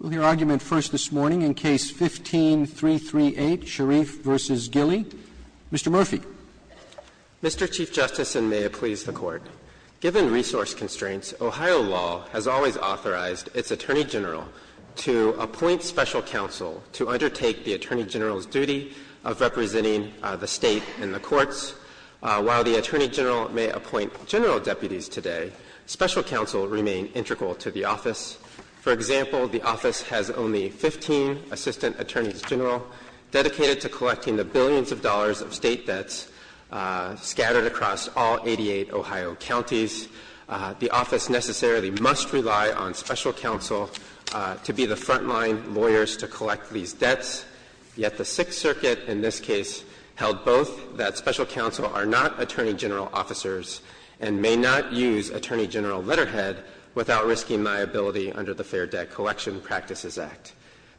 v. Sharif v. Gillie, Mr. Murphy. Mr. Chief Justice, and may it please the Court, given resource constraints, Ohio law has always authorized its Attorney General to appoint special counsel to undertake the Attorney General's duty of representing the State in the courts. While the Attorney General may appoint general deputies today, special counsel remain integral to the office. For example, the office has only 15 assistant attorneys general dedicated to collecting the billions of dollars of State debts scattered across all 88 Ohio counties. The office necessarily must rely on special counsel to be the front-line lawyers to collect these debts, yet the Sixth Circuit in this case held both, that special counsel are not Attorney General officers and may not use Attorney General letterhead without risking liability under the Fair Debt Collection Practices Act.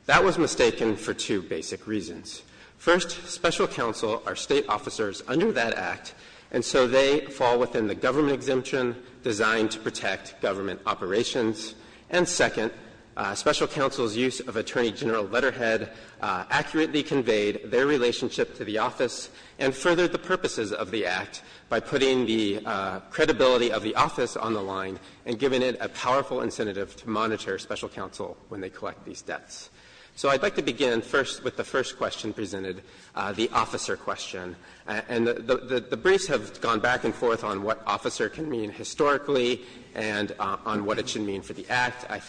That was mistaken for two basic reasons. First, special counsel are State officers under that Act, and so they fall within the government exemption designed to protect government operations. And second, special counsel's use of Attorney General letterhead accurately conveyed their relationship to the office and furthered the purposes of the Act by putting the credibility of the office on the line and giving it a powerful incentive to monitor special counsel when they collect these debts. So I'd like to begin first with the first question presented, the officer question. And the briefs have gone back and forth on what officer can mean historically and on what it should mean for the Act. I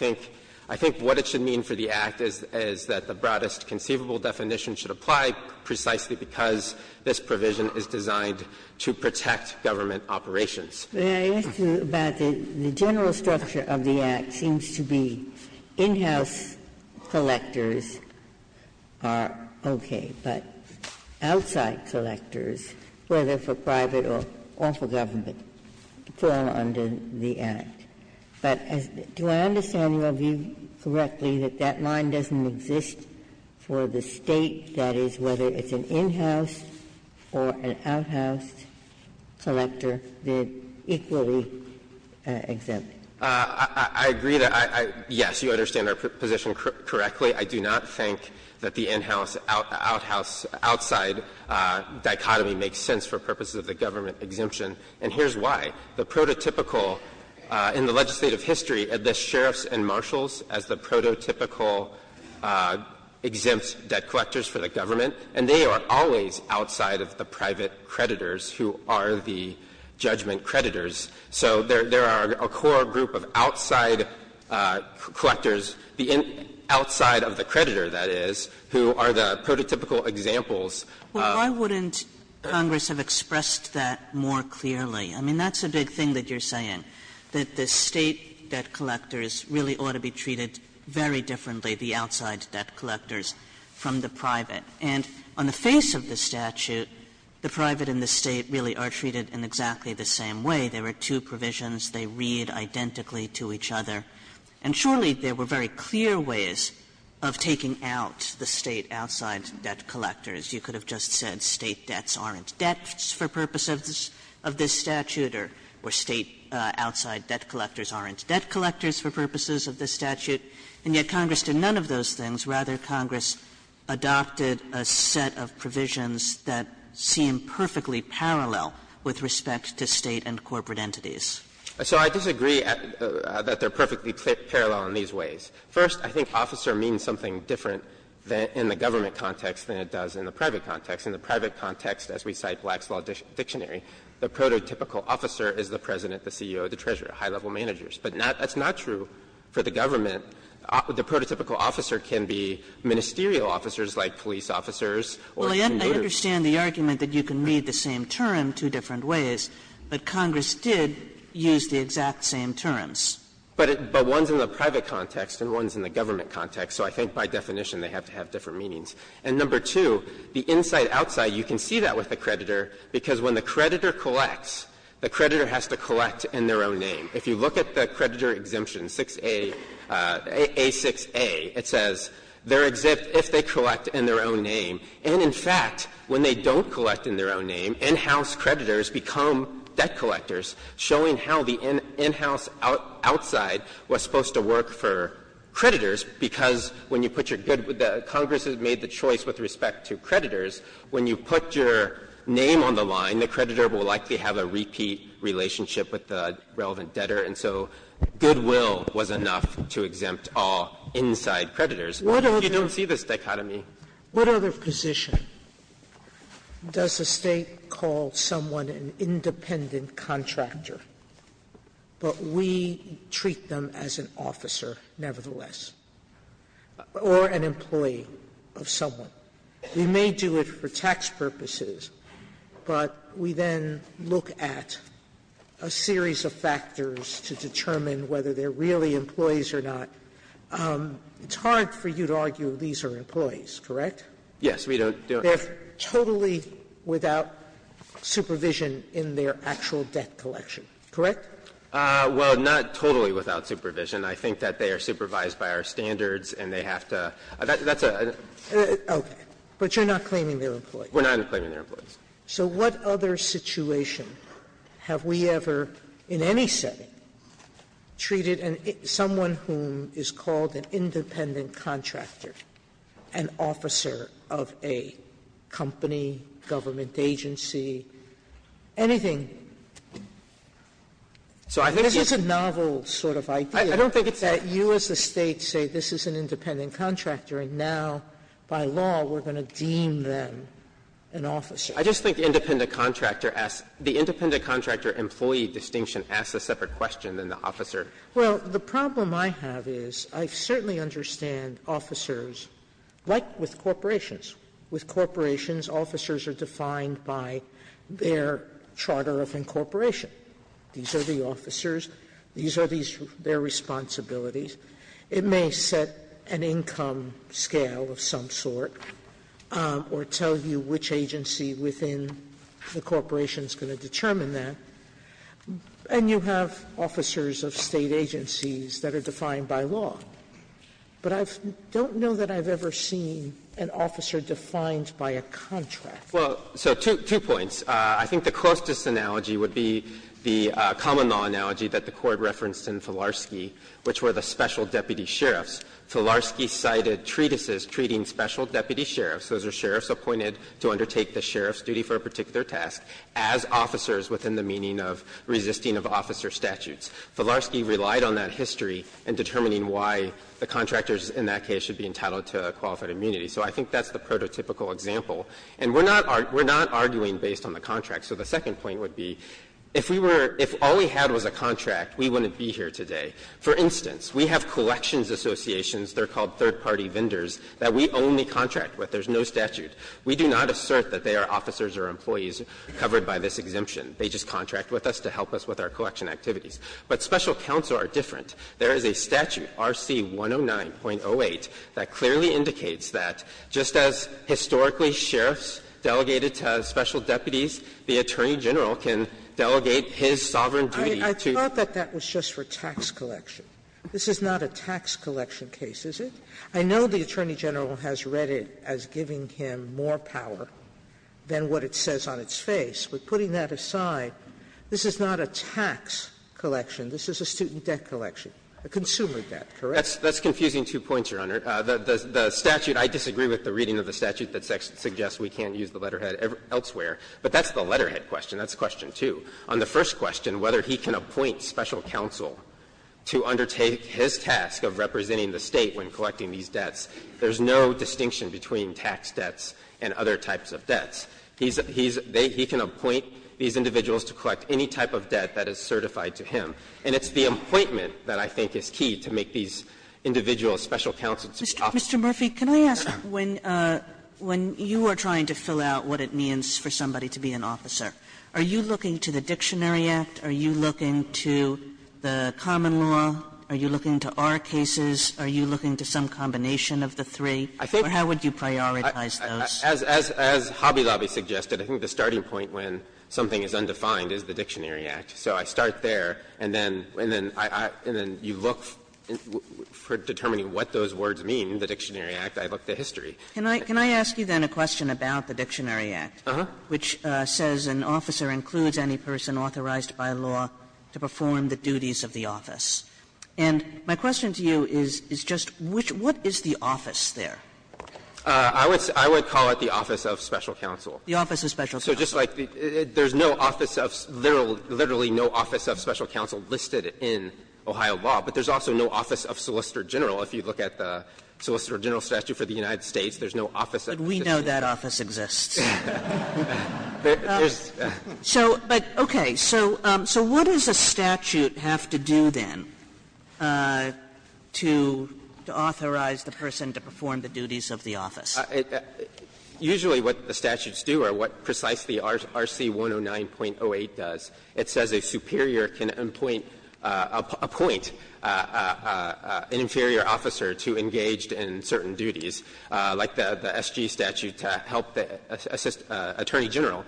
think what it should mean for the Act is that the broadest conceivable definition should apply precisely because this provision is designed to protect government Ginsburg-McCarran, Jr. May I ask you about the general structure of the Act? It seems to be in-house collectors are okay, but outside collectors, whether for private or for government, fall under the Act. But do I understand your view correctly that that line doesn't exist for the State that is whether it's an in-house or an out-house collector, they're equally exempt? I agree that I yes, you understand our position correctly. I do not think that the in-house, out-house, outside dichotomy makes sense for purposes of the government exemption. And here's why. The prototypical in the legislative history of the sheriffs and marshals as the prototypical exempt debt collectors for the government, and they are always outside of the private creditors who are the judgment creditors. So there are a core group of outside collectors, the outside of the creditor, that is, who are the prototypical examples. Well, why wouldn't Congress have expressed that more clearly? I mean, that's a big thing that you're saying, that the State debt collectors really ought to be treated very differently, the outside debt collectors, from the private. And on the face of the statute, the private and the State really are treated in exactly the same way. There are two provisions. They read identically to each other. And surely there were very clear ways of taking out the State outside debt collectors. You could have just said State debts aren't debts for purposes of this statute or State outside debt collectors aren't debt collectors for purposes of this statute. And yet Congress did none of those things. Rather, Congress adopted a set of provisions that seem perfectly parallel with respect to State and corporate entities. So I disagree that they're perfectly parallel in these ways. First, I think officer means something different in the government context than it does in the private context. In the private context, as we cite Black's Law Dictionary, the prototypical officer is the President, the CEO, the Treasurer, high-level managers. But that's not true for the government. The prototypical officer can be ministerial officers like police officers or commuter officers. Kagan, I understand the argument that you can read the same term two different ways, but Congress did use the exact same terms. But one's in the private context and one's in the government context, so I think by definition they have to have different meanings. And number two, the inside-outside, you can see that with the creditor, because when the creditor collects, the creditor has to collect in their own name. If you look at the creditor exemption, 6A --"A6A," it says, they're exempt if they collect in their own name. And in fact, when they don't collect in their own name, in-house creditors become debt collectors, showing how the in-house outside was supposed to work for the creditors, when you put your name on the line, the creditor will likely have a repeat relationship with the relevant debtor, and so goodwill was enough to exempt all inside creditors. Sotomayor, you don't see this dichotomy. Sotomayor, what other position does a State call someone an independent contractor, but we treat them as an officer nevertheless, or an employee of someone? We may do it for tax purposes, but we then look at a series of factors to determine whether they're really employees or not. It's hard for you to argue these are employees, correct? Yes, we don't. They're totally without supervision in their actual debt collection, correct? Well, not totally without supervision. I think that they are supervised by our standards and they have to – that's a – Okay. But you're not claiming they're employees. We're not claiming they're employees. So what other situation have we ever in any setting treated someone whom is called an independent contractor an officer of a company, government agency, anything? This is a novel sort of idea that you as a State say this is an independent contractor and now, by law, we're going to deem them an officer. I just think independent contractor asks – the independent contractor employee distinction asks a separate question than the officer. Well, the problem I have is I certainly understand officers, like with corporations. With corporations, officers are defined by their charter of incorporation. These are the officers. These are their responsibilities. It may set an income scale of some sort or tell you which agency within the corporation is going to determine that. And you have officers of State agencies that are defined by law. But I don't know that I've ever seen an officer defined by a contract. Well, so two points. I think the closest analogy would be the common law analogy that the Court referenced in Filarski, which were the special deputy sheriffs. Filarski cited treatises treating special deputy sheriffs, those are sheriffs appointed to undertake the sheriff's duty for a particular task, as officers within the meaning of resisting of officer statutes. Filarski relied on that history in determining why the contractors in that case should be entitled to qualified immunity. So I think that's the prototypical example. And we're not arguing based on the contract. So the second point would be, if we were – if all we had was a contract, we wouldn't be here today. For instance, we have collections associations, they're called third-party vendors, that we only contract with, there's no statute. We do not assert that they are officers or employees covered by this exemption. They just contract with us to help us with our collection activities. But special counts are different. There is a statute, RC 109.08, that clearly indicates that just as historically sheriffs delegated to special deputies, the Attorney General can delegate his sovereign duty to you. Sotomayor, I thought that that was just for tax collection. This is not a tax collection case, is it? I know the Attorney General has read it as giving him more power than what it says on its face. But putting that aside, this is not a tax collection. This is a student debt collection, a consumer debt, correct? That's confusing two points, Your Honor. The statute, I disagree with the reading of the statute that suggests we can't use the letterhead elsewhere. But that's the letterhead question. That's question two. On the first question, whether he can appoint special counsel to undertake his task of representing the State when collecting these debts, there's no distinction between tax debts and other types of debts. He's they he can appoint these individuals to collect any type of debt that is certified to him. And it's the appointment that I think is key to make these individuals special counsel to be officers. Sotomayor, can I ask, when you are trying to fill out what it means for somebody to be an officer, are you looking to the Dictionary Act, are you looking to the common law, are you looking to our cases, are you looking to some combination of the three, or how would you prioritize those? As Hobby Lobby suggested, I think the starting point when something is undefined is the Dictionary Act. So I start there, and then you look for determining what those words mean, the Dictionary Act, I look at the history. Can I ask you then a question about the Dictionary Act, which says an officer includes any person authorized by law to perform the duties of the office? And my question to you is just which one is the office there? I would call it the Office of Special Counsel. The Office of Special Counsel. So just like there's no office of there literally no office of special counsel listed in Ohio law, but there's also no office of Solicitor General. If you look at the Solicitor General statute for the United States, there's no office of Solicitor General. But we know that office exists. So, but, okay, so what does a statute have to do, then, to authorize the person to perform the duties of the office? Usually what the statutes do are what precisely RC 109.08 does. It says a superior can appoint an inferior officer to engage in certain duties, like the SG statute to help the Attorney General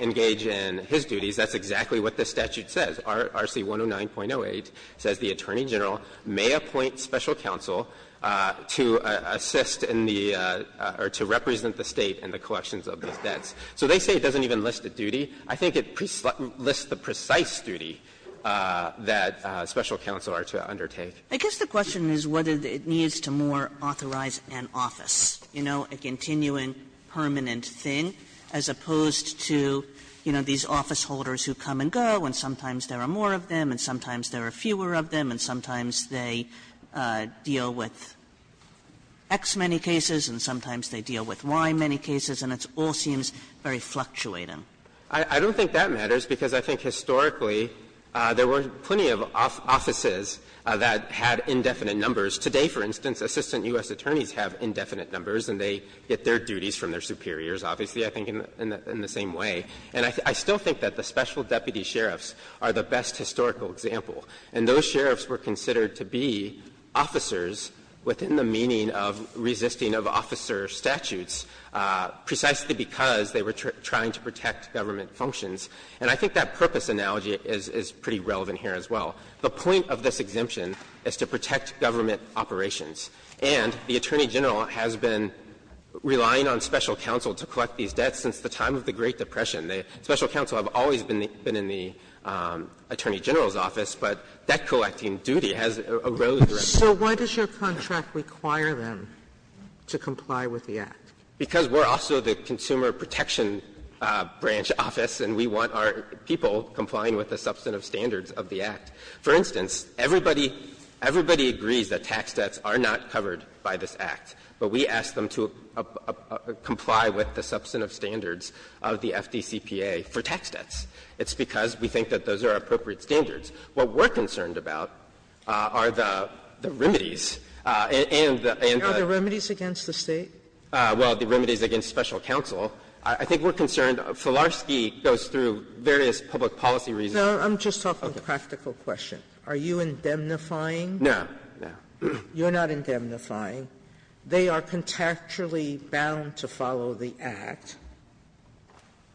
engage in his duties. That's exactly what the statute says. RC 109.08 says the Attorney General may appoint special counsel to assist in the or to represent the State in the collections of these debts. So they say it doesn't even list a duty. I think it lists the precise duty that special counsel are to undertake. Kagan. Kagan I guess the question is whether it needs to more authorize an office, you know, a continuing permanent thing, as opposed to, you know, these office holders who come and go, and sometimes there are more of them, and sometimes there are fewer of them, and sometimes they deal with X many cases, and sometimes they deal with Y many cases, and it all seems very fluctuating. I don't think that matters, because I think historically there were plenty of offices that had indefinite numbers. Today, for instance, Assistant U.S. Attorneys have indefinite numbers, and they get their duties from their superiors, obviously, I think, in the same way. And I still think that the special deputy sheriffs are the best historical example, and those sheriffs were considered to be officers within the meaning of resisting of officer statutes precisely because they were trying to protect government functions. And I think that purpose analogy is pretty relevant here as well. The point of this exemption is to protect government operations. And the Attorney General has been relying on special counsel to collect these debts since the time of the Great Depression. Special counsel have always been in the Attorney General's office, but debt-collecting duty has eroded. Sotomayor, so why does your contract require them to comply with the Act? Because we're also the Consumer Protection Branch office, and we want our people complying with the substantive standards of the Act. For instance, everybody agrees that tax debts are not covered by this Act, but we ask them to comply with the substantive standards of the FDCPA for tax debts. It's because we think that those are appropriate standards. What we're concerned about are the remedies and the other remedies against the State. Well, the remedies against special counsel. I think we're concerned. Filarski goes through various public policy reasons. Sotomayor, I'm just talking practical questions. Are you indemnifying? No. No. You're not indemnifying. They are contractually bound to follow the Act,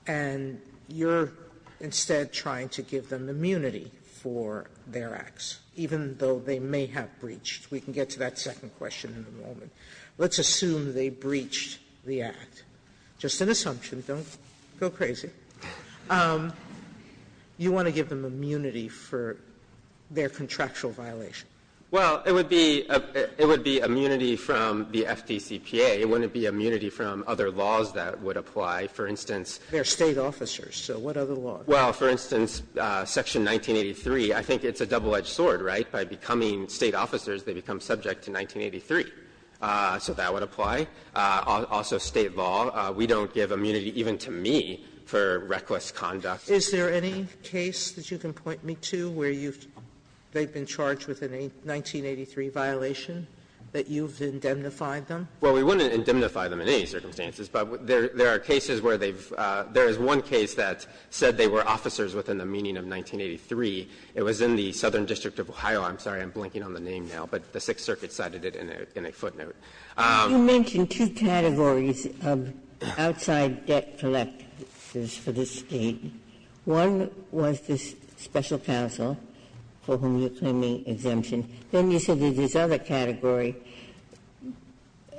and you're instead trying to give them immunity for their acts, even though they may have breached. We can get to that second question in a moment. Let's assume they breached the Act, just an assumption, don't go crazy. You want to give them immunity for their contractual violation. Well, it would be immunity from the FDCPA. It wouldn't be immunity from other laws that would apply. For instance, they're State officers, so what other laws? Well, for instance, section 1983, I think it's a double-edged sword, right? By becoming State officers, they become subject to 1983. So that would apply. Also State law. We don't give immunity even to me for reckless conduct. Sotomayor, is there any case that you can point me to where they've been charged with a 1983 violation, that you've indemnified them? Well, we wouldn't indemnify them in any circumstances, but there are cases where they've – there is one case that said they were officers within the meaning of 1983. It was in the Southern District of Ohio. I'm sorry, I'm blinking on the name now, but the Sixth Circuit cited it in a footnote. Ginsburg, you mentioned two categories of outside debt collectors for the State. One was the special counsel for whom you're claiming exemption. Then you said there's this other category.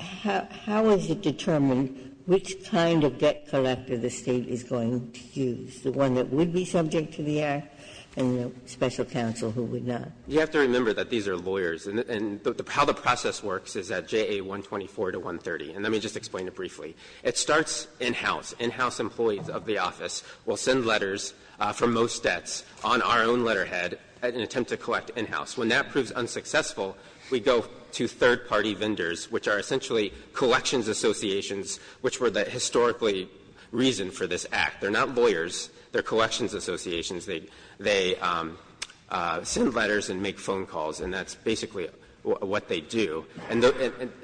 How is it determined which kind of debt collector the State is going to use, the one that would be subject to the act and the special counsel who would not? You have to remember that these are lawyers. And how the process works is at JA 124 to 130. And let me just explain it briefly. It starts in-house. In-house employees of the office will send letters from most debts on our own letterhead in an attempt to collect in-house. When that proves unsuccessful, we go to third-party vendors, which are essentially collections associations, which were the historically reason for this act. They're not lawyers. They're collections associations. They send letters and make phone calls, and that's basically what they do. And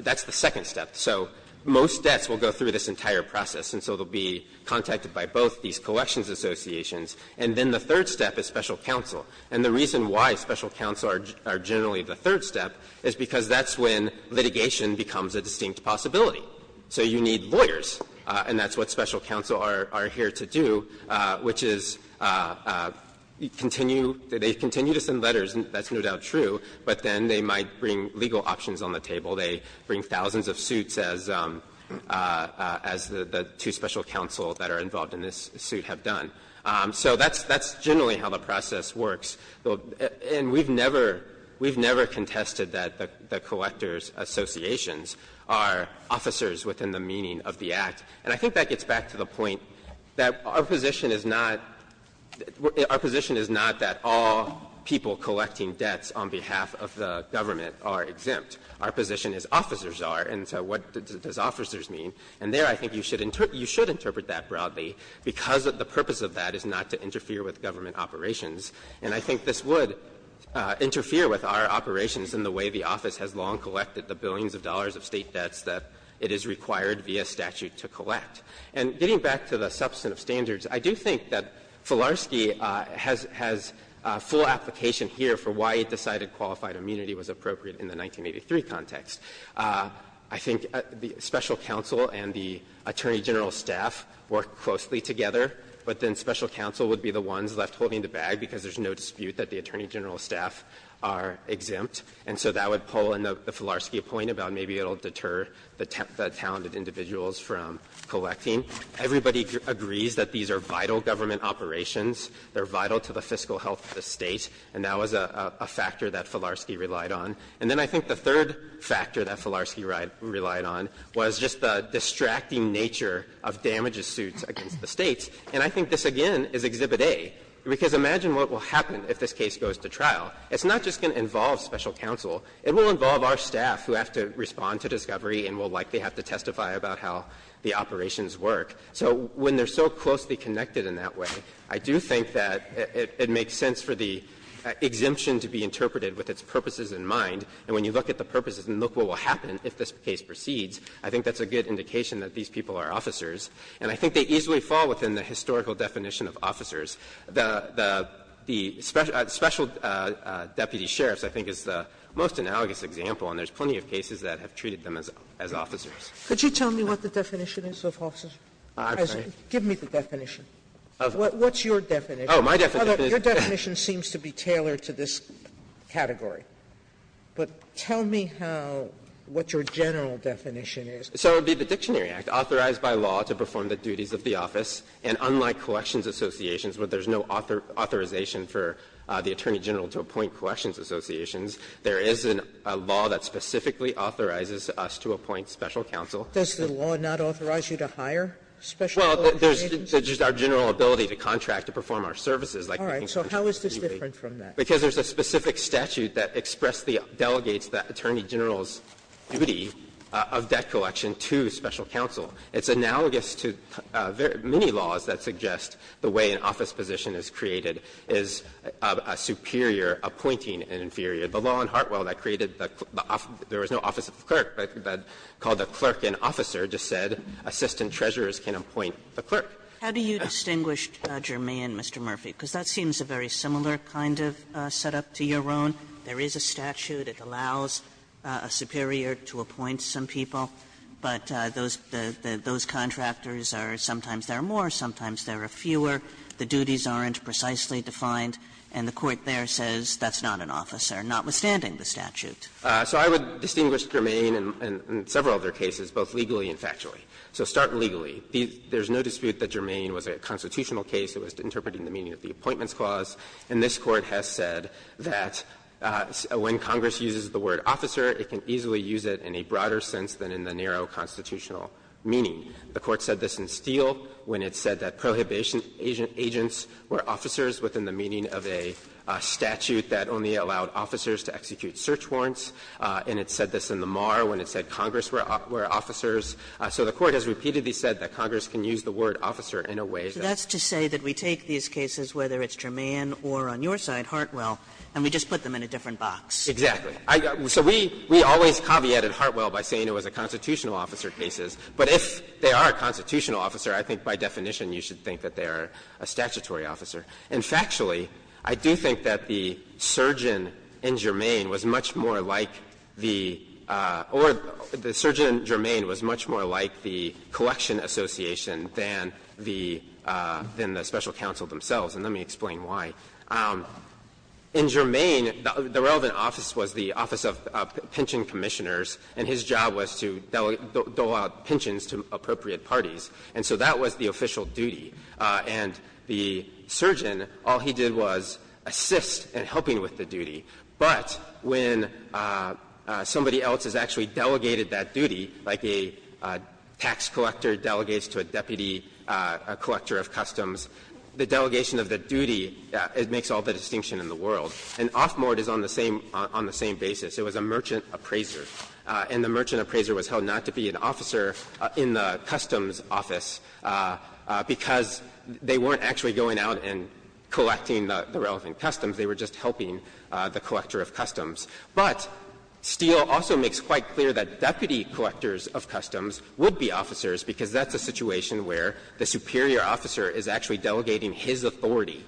that's the second step. So most debts will go through this entire process, and so they'll be contacted by both these collections associations. And then the third step is special counsel. And the reason why special counsel are generally the third step is because that's when litigation becomes a distinct possibility. So you need lawyers, and that's what special counsel are here to do, which is, you know, continue to send letters, and that's no doubt true, but then they might bring legal options on the table. They bring thousands of suits, as the two special counsel that are involved in this suit have done. So that's generally how the process works. And we've never contested that the collectors associations are officers within the meaning of the act, and I think that gets back to the point that our position is not that all people collecting debts on behalf of the government are exempt. Our position is officers are, and so what does officers mean? And there I think you should interpret that broadly, because the purpose of that is not to interfere with government operations. And I think this would interfere with our operations in the way the office has long collected the billions of dollars of State debts that it is required via statute to collect. And getting back to the substantive standards, I do think that Filarski has full application here for why he decided qualified immunity was appropriate in the 1983 context. I think the special counsel and the attorney general's staff work closely together, but then special counsel would be the ones left holding the bag because there's no dispute that the attorney general's staff are exempt. And so that would pull in the Filarski point about maybe it will deter the talented individuals from collecting. Everybody agrees that these are vital government operations. They're vital to the fiscal health of the State, and that was a factor that Filarski relied on. And then I think the third factor that Filarski relied on was just the distracting nature of damages suits against the States. And I think this, again, is Exhibit A, because imagine what will happen if this case goes to trial. It's not just going to involve special counsel. It will involve our staff who have to respond to discovery and will likely have to testify about how the operations work. So when they're so closely connected in that way, I do think that it makes sense for the exemption to be interpreted with its purposes in mind. And when you look at the purposes and look what will happen if this case proceeds, I think that's a good indication that these people are officers. And I think they easily fall within the historical definition of officers. The special deputy sheriffs, I think, is the most analogous example, and there's plenty of cases that have treated them as officers. Sotomayor, could you tell me what the definition is of officers? Give me the definition. What's your definition? Your definition seems to be tailored to this category. But tell me how what your general definition is. So it would be the Dictionary Act authorized by law to perform the duties of the office. And unlike collections associations where there's no authorization for the attorney general to appoint collections associations, there is a law that specifically authorizes us to appoint special counsel. Does the law not authorize you to hire special colleges? Well, there's just our general ability to contract to perform our services. All right. So how is this different from that? Because there's a specific statute that expressly delegates the attorney general's duty of debt collection to special counsel. It's analogous to many laws that suggest the way an office position is created is superior, appointing, and inferior. The law in Hartwell that created the office of the clerk, called the clerk an officer, just said assistant treasurers can appoint the clerk. How do you distinguish Germain, Mr. Murphy? Because that seems a very similar kind of setup to your own. There is a statute that allows a superior to appoint some people, but those contractors are sometimes there are more, sometimes there are fewer. The duties aren't precisely defined, and the court there says that's not an officer, notwithstanding the statute. So I would distinguish Germain in several of their cases, both legally and factually. So start legally. There's no dispute that Germain was a constitutional case. It was interpreting the meaning of the Appointments Clause. And this Court has said that when Congress uses the word officer, it can easily use it in a broader sense than in the narrow constitutional meaning. The Court said this in Steele when it said that prohibition agents were officers within the meaning of a statute that only allowed officers to execute search warrants. And it said this in the Marr when it said Congress were officers. So the Court has repeatedly said that Congress can use the word officer in a way that we can't. Kagan. Kagan. So that's to say that we take these cases, whether it's Germain or on your side, Hartwell, and we just put them in a different box. Exactly. So we always caveated Hartwell by saying it was a constitutional officer cases. But if they are a constitutional officer, I think by definition you should think that they are a statutory officer. And factually, I do think that the surgeon in Germain was much more like the or the surgeon in Germain was much more like the collection association than the Special Counsel themselves, and let me explain why. In Germain, the relevant office was the Office of Pension Commissioners, and his job was to dole out pensions to appropriate parties. And so that was the official duty. And the surgeon, all he did was assist in helping with the duty. But when somebody else has actually delegated that duty, like a tax collector delegates to a deputy collector of customs, the delegation of the duty, it makes all the distinction in the world. And Offmord is on the same basis. It was a merchant appraiser, and the merchant appraiser was held not to be an officer in the customs office, because they weren't actually going out and collecting the relevant customs. They were just helping the collector of customs. But Steele also makes quite clear that deputy collectors of customs would be officers, because that's a situation where the superior officer is actually delegating his authority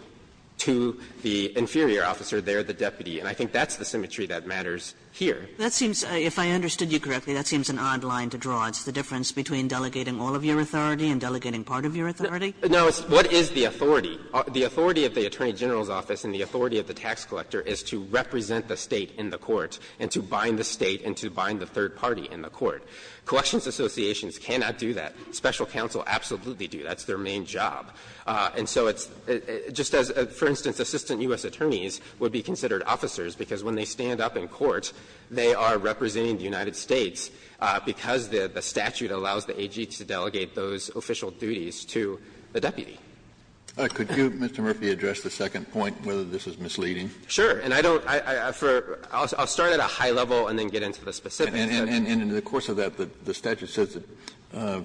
to the inferior officer. They are the deputy. And I think that's the symmetry that matters here. Kagan. Kagan. If I understood you correctly, that seems an odd line to draw. It's the difference between delegating all of your authority and delegating part of your authority? No. What is the authority? The authority of the attorney general's office and the authority of the tax collector is to represent the State in the court and to bind the State and to bind the third party in the court. Collections associations cannot do that. Special counsel absolutely do. That's their main job. And so it's just as, for instance, assistant U.S. attorneys would be considered officers, because when they stand up in court, they are representing the United States, because the statute allows the AG to delegate those official duties to the deputy. Kennedy. Could you, Mr. Murphy, address the second point, whether this is misleading? Sure. And I don't for – I'll start at a high level and then get into the specifics. And in the course of that, the statute says that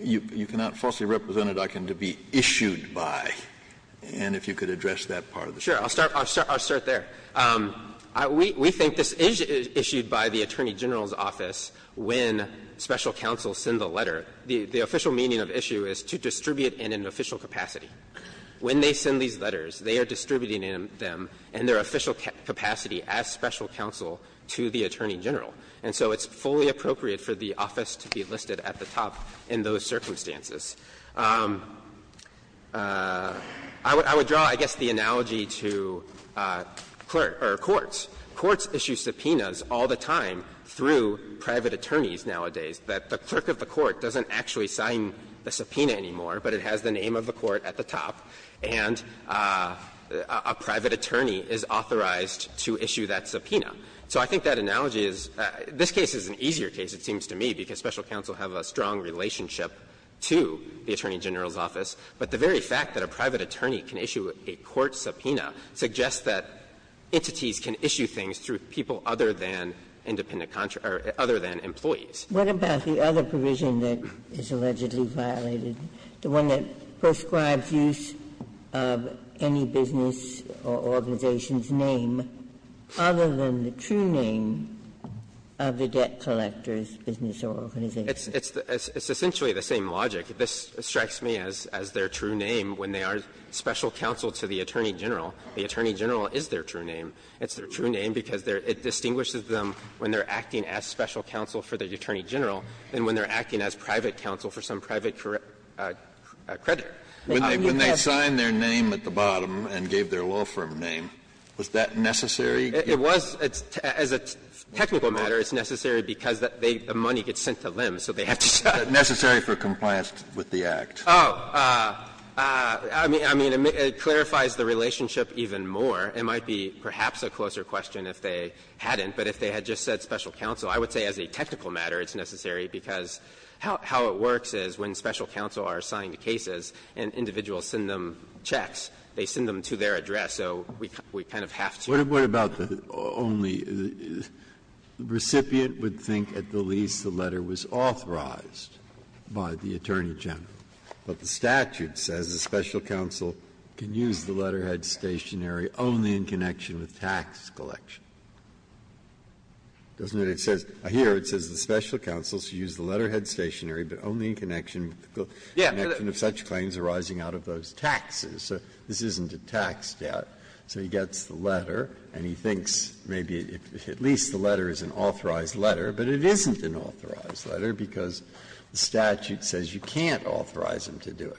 you cannot falsely represent a document to be issued by. And if you could address that part of the statute. Sure. I'll start there. We think this is issued by the Attorney General's office when special counsel send the letter. The official meaning of issue is to distribute in an official capacity. When they send these letters, they are distributing them in their official capacity as special counsel to the Attorney General. And so it's fully appropriate for the office to be listed at the top in those circumstances. I would draw, I guess, the analogy to clerk or courts. Courts issue subpoenas all the time through private attorneys nowadays, that the clerk of the court doesn't actually sign the subpoena anymore, but it has the name of the court at the top, and a private attorney is authorized to issue that subpoena. So I think that analogy is – this case is an easier case, it seems to me, because we think special counsel have a strong relationship to the Attorney General's office, but the very fact that a private attorney can issue a court subpoena suggests that entities can issue things through people other than independent – other than employees. What about the other provision that is allegedly violated, the one that prescribes use of any business or organization's name other than the true name of the debt collector's business or organization? It's essentially the same logic. This strikes me as their true name when they are special counsel to the Attorney General. The Attorney General is their true name. It's their true name because it distinguishes them when they are acting as special counsel for the Attorney General and when they are acting as private counsel for some private credit. Kennedy, when they signed their name at the bottom and gave their law firm name, was that necessary? It was. As a technical matter, it's necessary because the money gets sent to them, so they have to check. Necessary for compliance with the Act. Oh. I mean, it clarifies the relationship even more. It might be perhaps a closer question if they hadn't, but if they had just said special counsel, I would say as a technical matter it's necessary because how it works is when special counsel are assigned cases and individuals send them checks, they send them to their address, so we kind of have to. Breyer, what about the only recipient would think at the least the letter was authorized by the Attorney General, but the statute says the special counsel can use the letterhead stationary only in connection with tax collection, doesn't it? It says here, it says the special counsel should use the letterhead stationary, but only in connection with the collection of such claims arising out of those taxes. So this isn't a tax debt. So he gets the letter, and he thinks maybe at least the letter is an authorized letter, but it isn't an authorized letter because the statute says you can't authorize him to do it.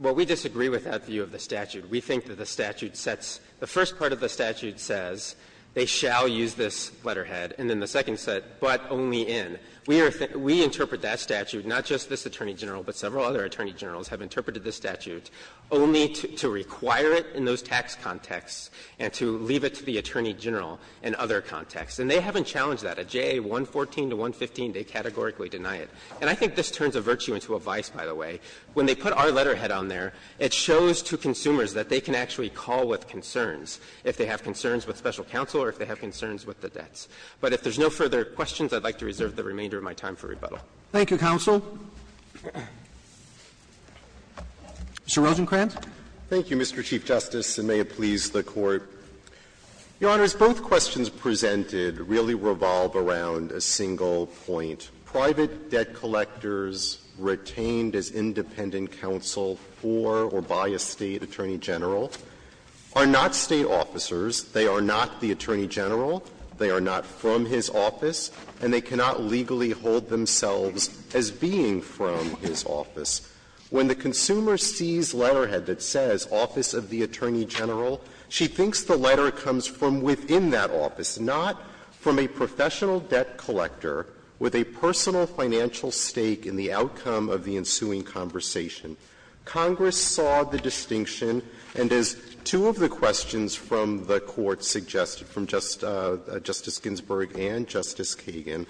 Well, we disagree with that view of the statute. We think that the statute sets the first part of the statute says they shall use this letterhead, and then the second said, but only in. We interpret that statute, not just this Attorney General, but several other Attorney Generals have interpreted this statute only to require it in those tax contexts and to leave it to the Attorney General in other contexts. And they haven't challenged that. At JA 114 to 115, they categorically deny it. And I think this turns a virtue into a vice, by the way. When they put our letterhead on there, it shows to consumers that they can actually call with concerns, if they have concerns with special counsel or if they have concerns with the debts. But if there's no further questions, I'd like to reserve the remainder of my time for rebuttal. Roberts Thank you, counsel. Mr. Rosenkranz. Rosenkranz, thank you, Mr. Chief Justice, and may it please the Court. Your Honors, both questions presented really revolve around a single point. Private debt collectors retained as independent counsel for or by a State Attorney General are not State officers. They are not the Attorney General. They are not from his office. And they cannot legally hold themselves as being from his office. When the consumer sees letterhead that says, Office of the Attorney General, she thinks the letter comes from within that office, not from a professional debt collector with a personal financial stake in the outcome of the ensuing conversation. Congress saw the distinction, and as two of the questions from the Court suggested from Justice Ginsburg and Justice Kagan,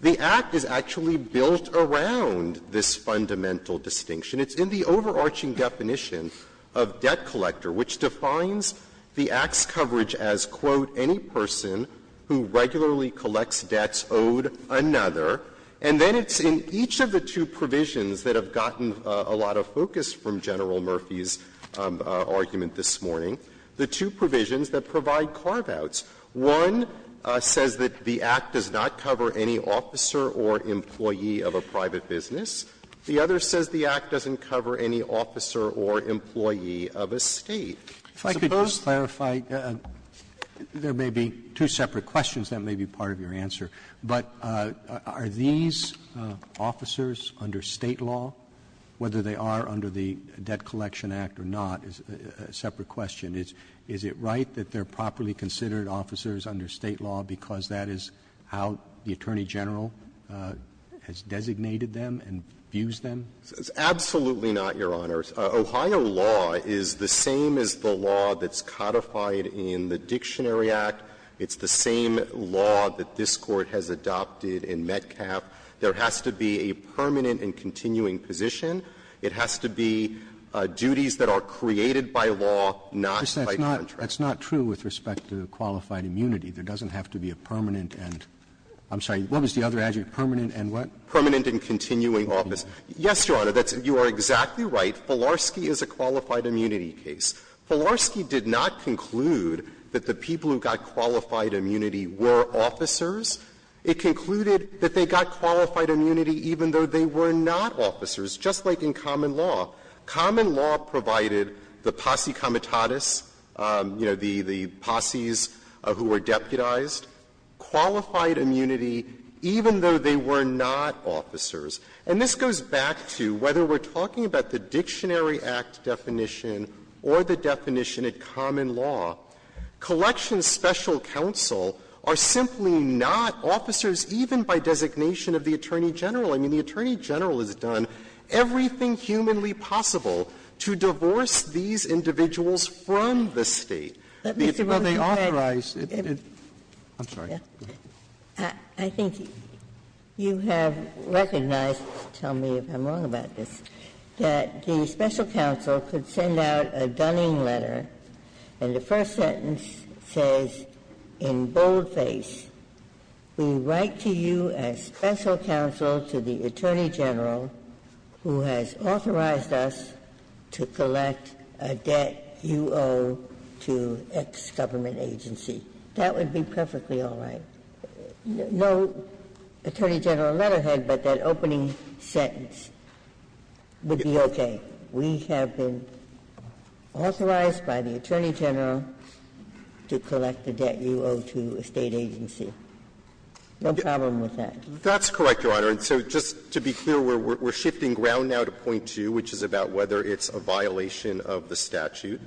the Act is actually built around this fundamental distinction. It's in the overarching definition of debt collector, which defines the Act's coverage as, quote, any person who regularly collects debts owed another. And then it's in each of the two provisions that have gotten a lot of focus from General Garbaut's. One says that the Act does not cover any officer or employee of a private business. The other says the Act doesn't cover any officer or employee of a State. Roberts, if I could just clarify, there may be two separate questions. That may be part of your answer. But are these officers under State law, whether they are under the Debt Collection Act or not, is a separate question. Is it right that they are properly considered officers under State law because that is how the Attorney General has designated them and views them? Absolutely not, Your Honors. Ohio law is the same as the law that's codified in the Dictionary Act. It's the same law that this Court has adopted in Metcalf. There has to be a permanent and continuing position. It has to be duties that are created by law, not by contract. Roberts, that's not true with respect to qualified immunity. There doesn't have to be a permanent and – I'm sorry, what was the other adject? Permanent and what? Permanent and continuing office. Yes, Your Honor, that's – you are exactly right. Filarski is a qualified immunity case. Filarski did not conclude that the people who got qualified immunity were officers. It concluded that they got qualified immunity even though they were not officers. Just like in common law. Common law provided the posse comitatus, you know, the posses who were deputized, qualified immunity even though they were not officers. And this goes back to whether we are talking about the Dictionary Act definition or the definition at common law, collections special counsel are simply not officers even by designation of the Attorney General. I mean, the Attorney General has done everything humanly possible to divorce these individuals from the State. Let me say one more thing. Well, they authorize – I'm sorry. I think you have recognized, tell me if I'm wrong about this, that the special counsel could send out a dunning letter and the first sentence says in bold face, We write to you as special counsel to the Attorney General who has authorized us to collect a debt you owe to X government agency. That would be perfectly all right. No Attorney General letterhead, but that opening sentence would be okay. We have been authorized by the Attorney General to collect a debt you owe to a State agency. No problem with that. That's correct, Your Honor. And so just to be clear, we're shifting ground now to point 2, which is about whether it's a violation of the statute.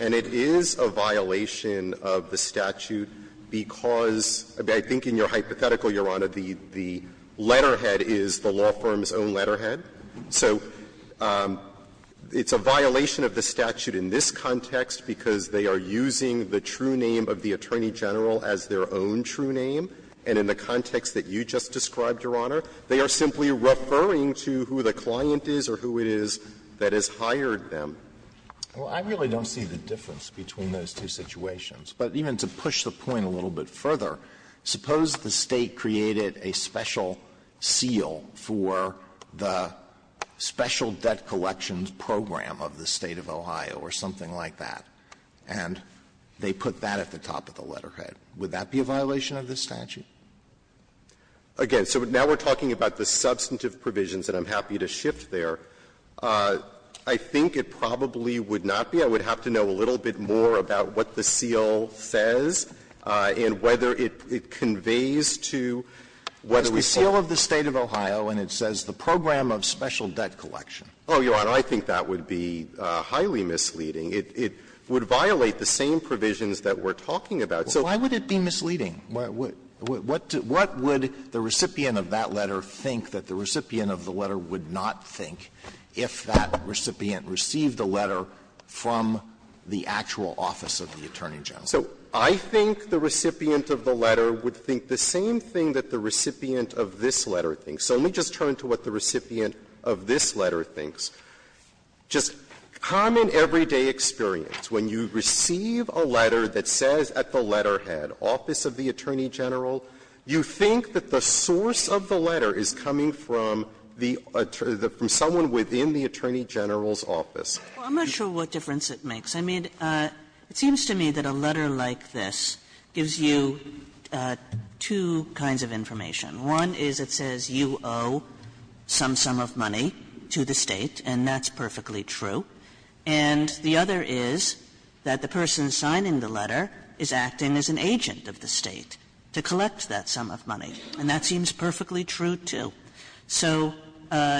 And it is a violation of the statute because I think in your hypothetical, Your Honor, the letterhead is the law firm's own letterhead. So it's a violation of the statute in this context because they are using the true name of the Attorney General as their own true name, and in the context that you just described, Your Honor, they are simply referring to who the client is or who it is that has hired them. Well, I really don't see the difference between those two situations. But even to push the point a little bit further, suppose the State created a special seal for the Special Debt Collections Program of the State of Ohio or something like that, and they put that at the top of the letterhead. Would that be a violation of the statute? Again, so now we're talking about the substantive provisions, and I'm happy to shift there. I think it probably would not be. I would have to know a little bit more about what the seal says and whether it conveys to whether we say the program of Special Debt Collection. Oh, Your Honor, I think that would be highly misleading. It would violate the same provisions that we're talking about. So why would it be misleading? What would the recipient of that letter think that the recipient of the letter would not think if that recipient received the letter from the actual office of the Attorney General? So I think the recipient of the letter would think the same thing that the recipient of this letter thinks. So let me just turn to what the recipient of this letter thinks. Just common everyday experience, when you receive a letter that says at the letterhead, office of the Attorney General, you think that the source of the letter is coming from the attorney, from someone within the Attorney General's office. Kagan. Sotomayor, I'm not sure what difference it makes. I mean, it seems to me that a letter like this gives you two kinds of information. One is it says you owe some sum of money to the State, and that's perfectly true. And the other is that the person signing the letter is acting as an agent of the State to collect that sum of money, and that seems perfectly true, too. So,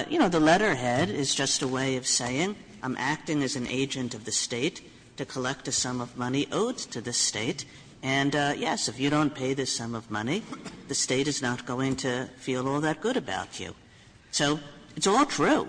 you know, the letterhead is just a way of saying I'm acting as an agent of the State to collect a sum of money owed to the State, and, yes, if you don't pay this sum of money, I'm not going to feel all that good about you. So it's all true.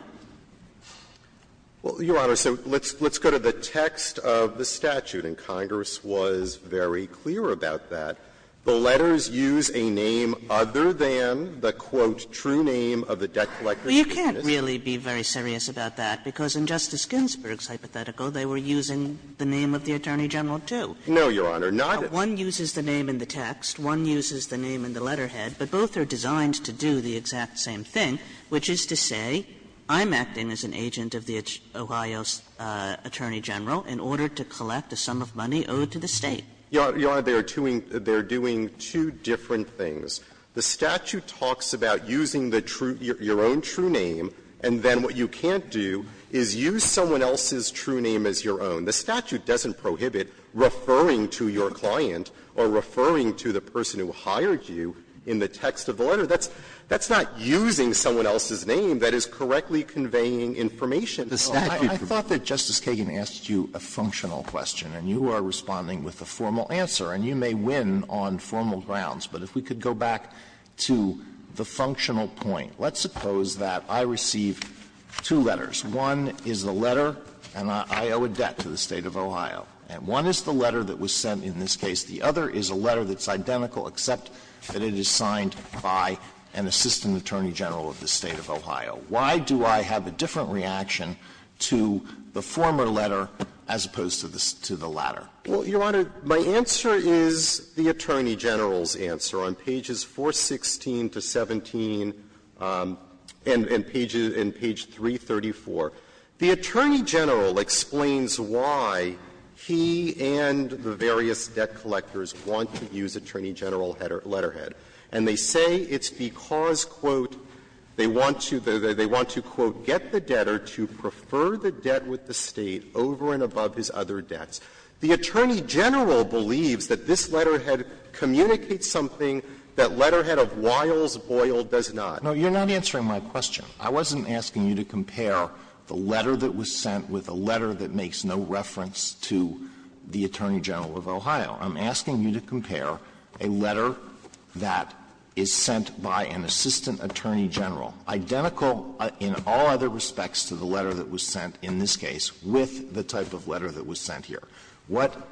Well, Your Honor, so let's go to the text of the statute, and Congress was very clear about that. The letters use a name other than the, quote, true name of the debt collector who sent this. Well, you can't really be very serious about that, because in Justice Ginsburg's hypothetical, they were using the name of the Attorney General, too. No, Your Honor, not at all. One uses the name in the text, one uses the name in the letterhead, but both are designed to do the exact same thing, which is to say, I'm acting as an agent of the Ohio's Attorney General in order to collect a sum of money owed to the State. Your Honor, they are doing two different things. The statute talks about using the true your own true name, and then what you can't do is use someone else's true name as your own. The statute doesn't prohibit referring to your client or referring to the person who hired you in the text of the letter. That's not using someone else's name that is correctly conveying information. Alito, I thought that Justice Kagan asked you a functional question, and you are responding with a formal answer, and you may win on formal grounds. But if we could go back to the functional point. Let's suppose that I receive two letters. One is a letter, and I owe a debt to the State of Ohio. And one is the letter that was sent in this case. The other is a letter that's identical, except that it is signed by an assistant attorney general of the State of Ohio. Why do I have a different reaction to the former letter as opposed to the latter? Well, Your Honor, my answer is the Attorney General's answer. On pages 416 to 17 and page 334, the Attorney General explains why he and the various debt collectors want to use Attorney General letterhead. And they say it's because, quote, they want to, they want to, quote, get the debtor to prefer the debt with the State over and above his other debts. The Attorney General believes that this letterhead communicates something that letterhead of Wiles Boyle does not. Alito, you're not answering my question. I wasn't asking you to compare the letter that was sent with a letter that makes no reference to the Attorney General of Ohio. I'm asking you to compare a letter that is sent by an assistant attorney general, identical in all other respects to the letter that was sent in this case, with the letter that was sent in this case.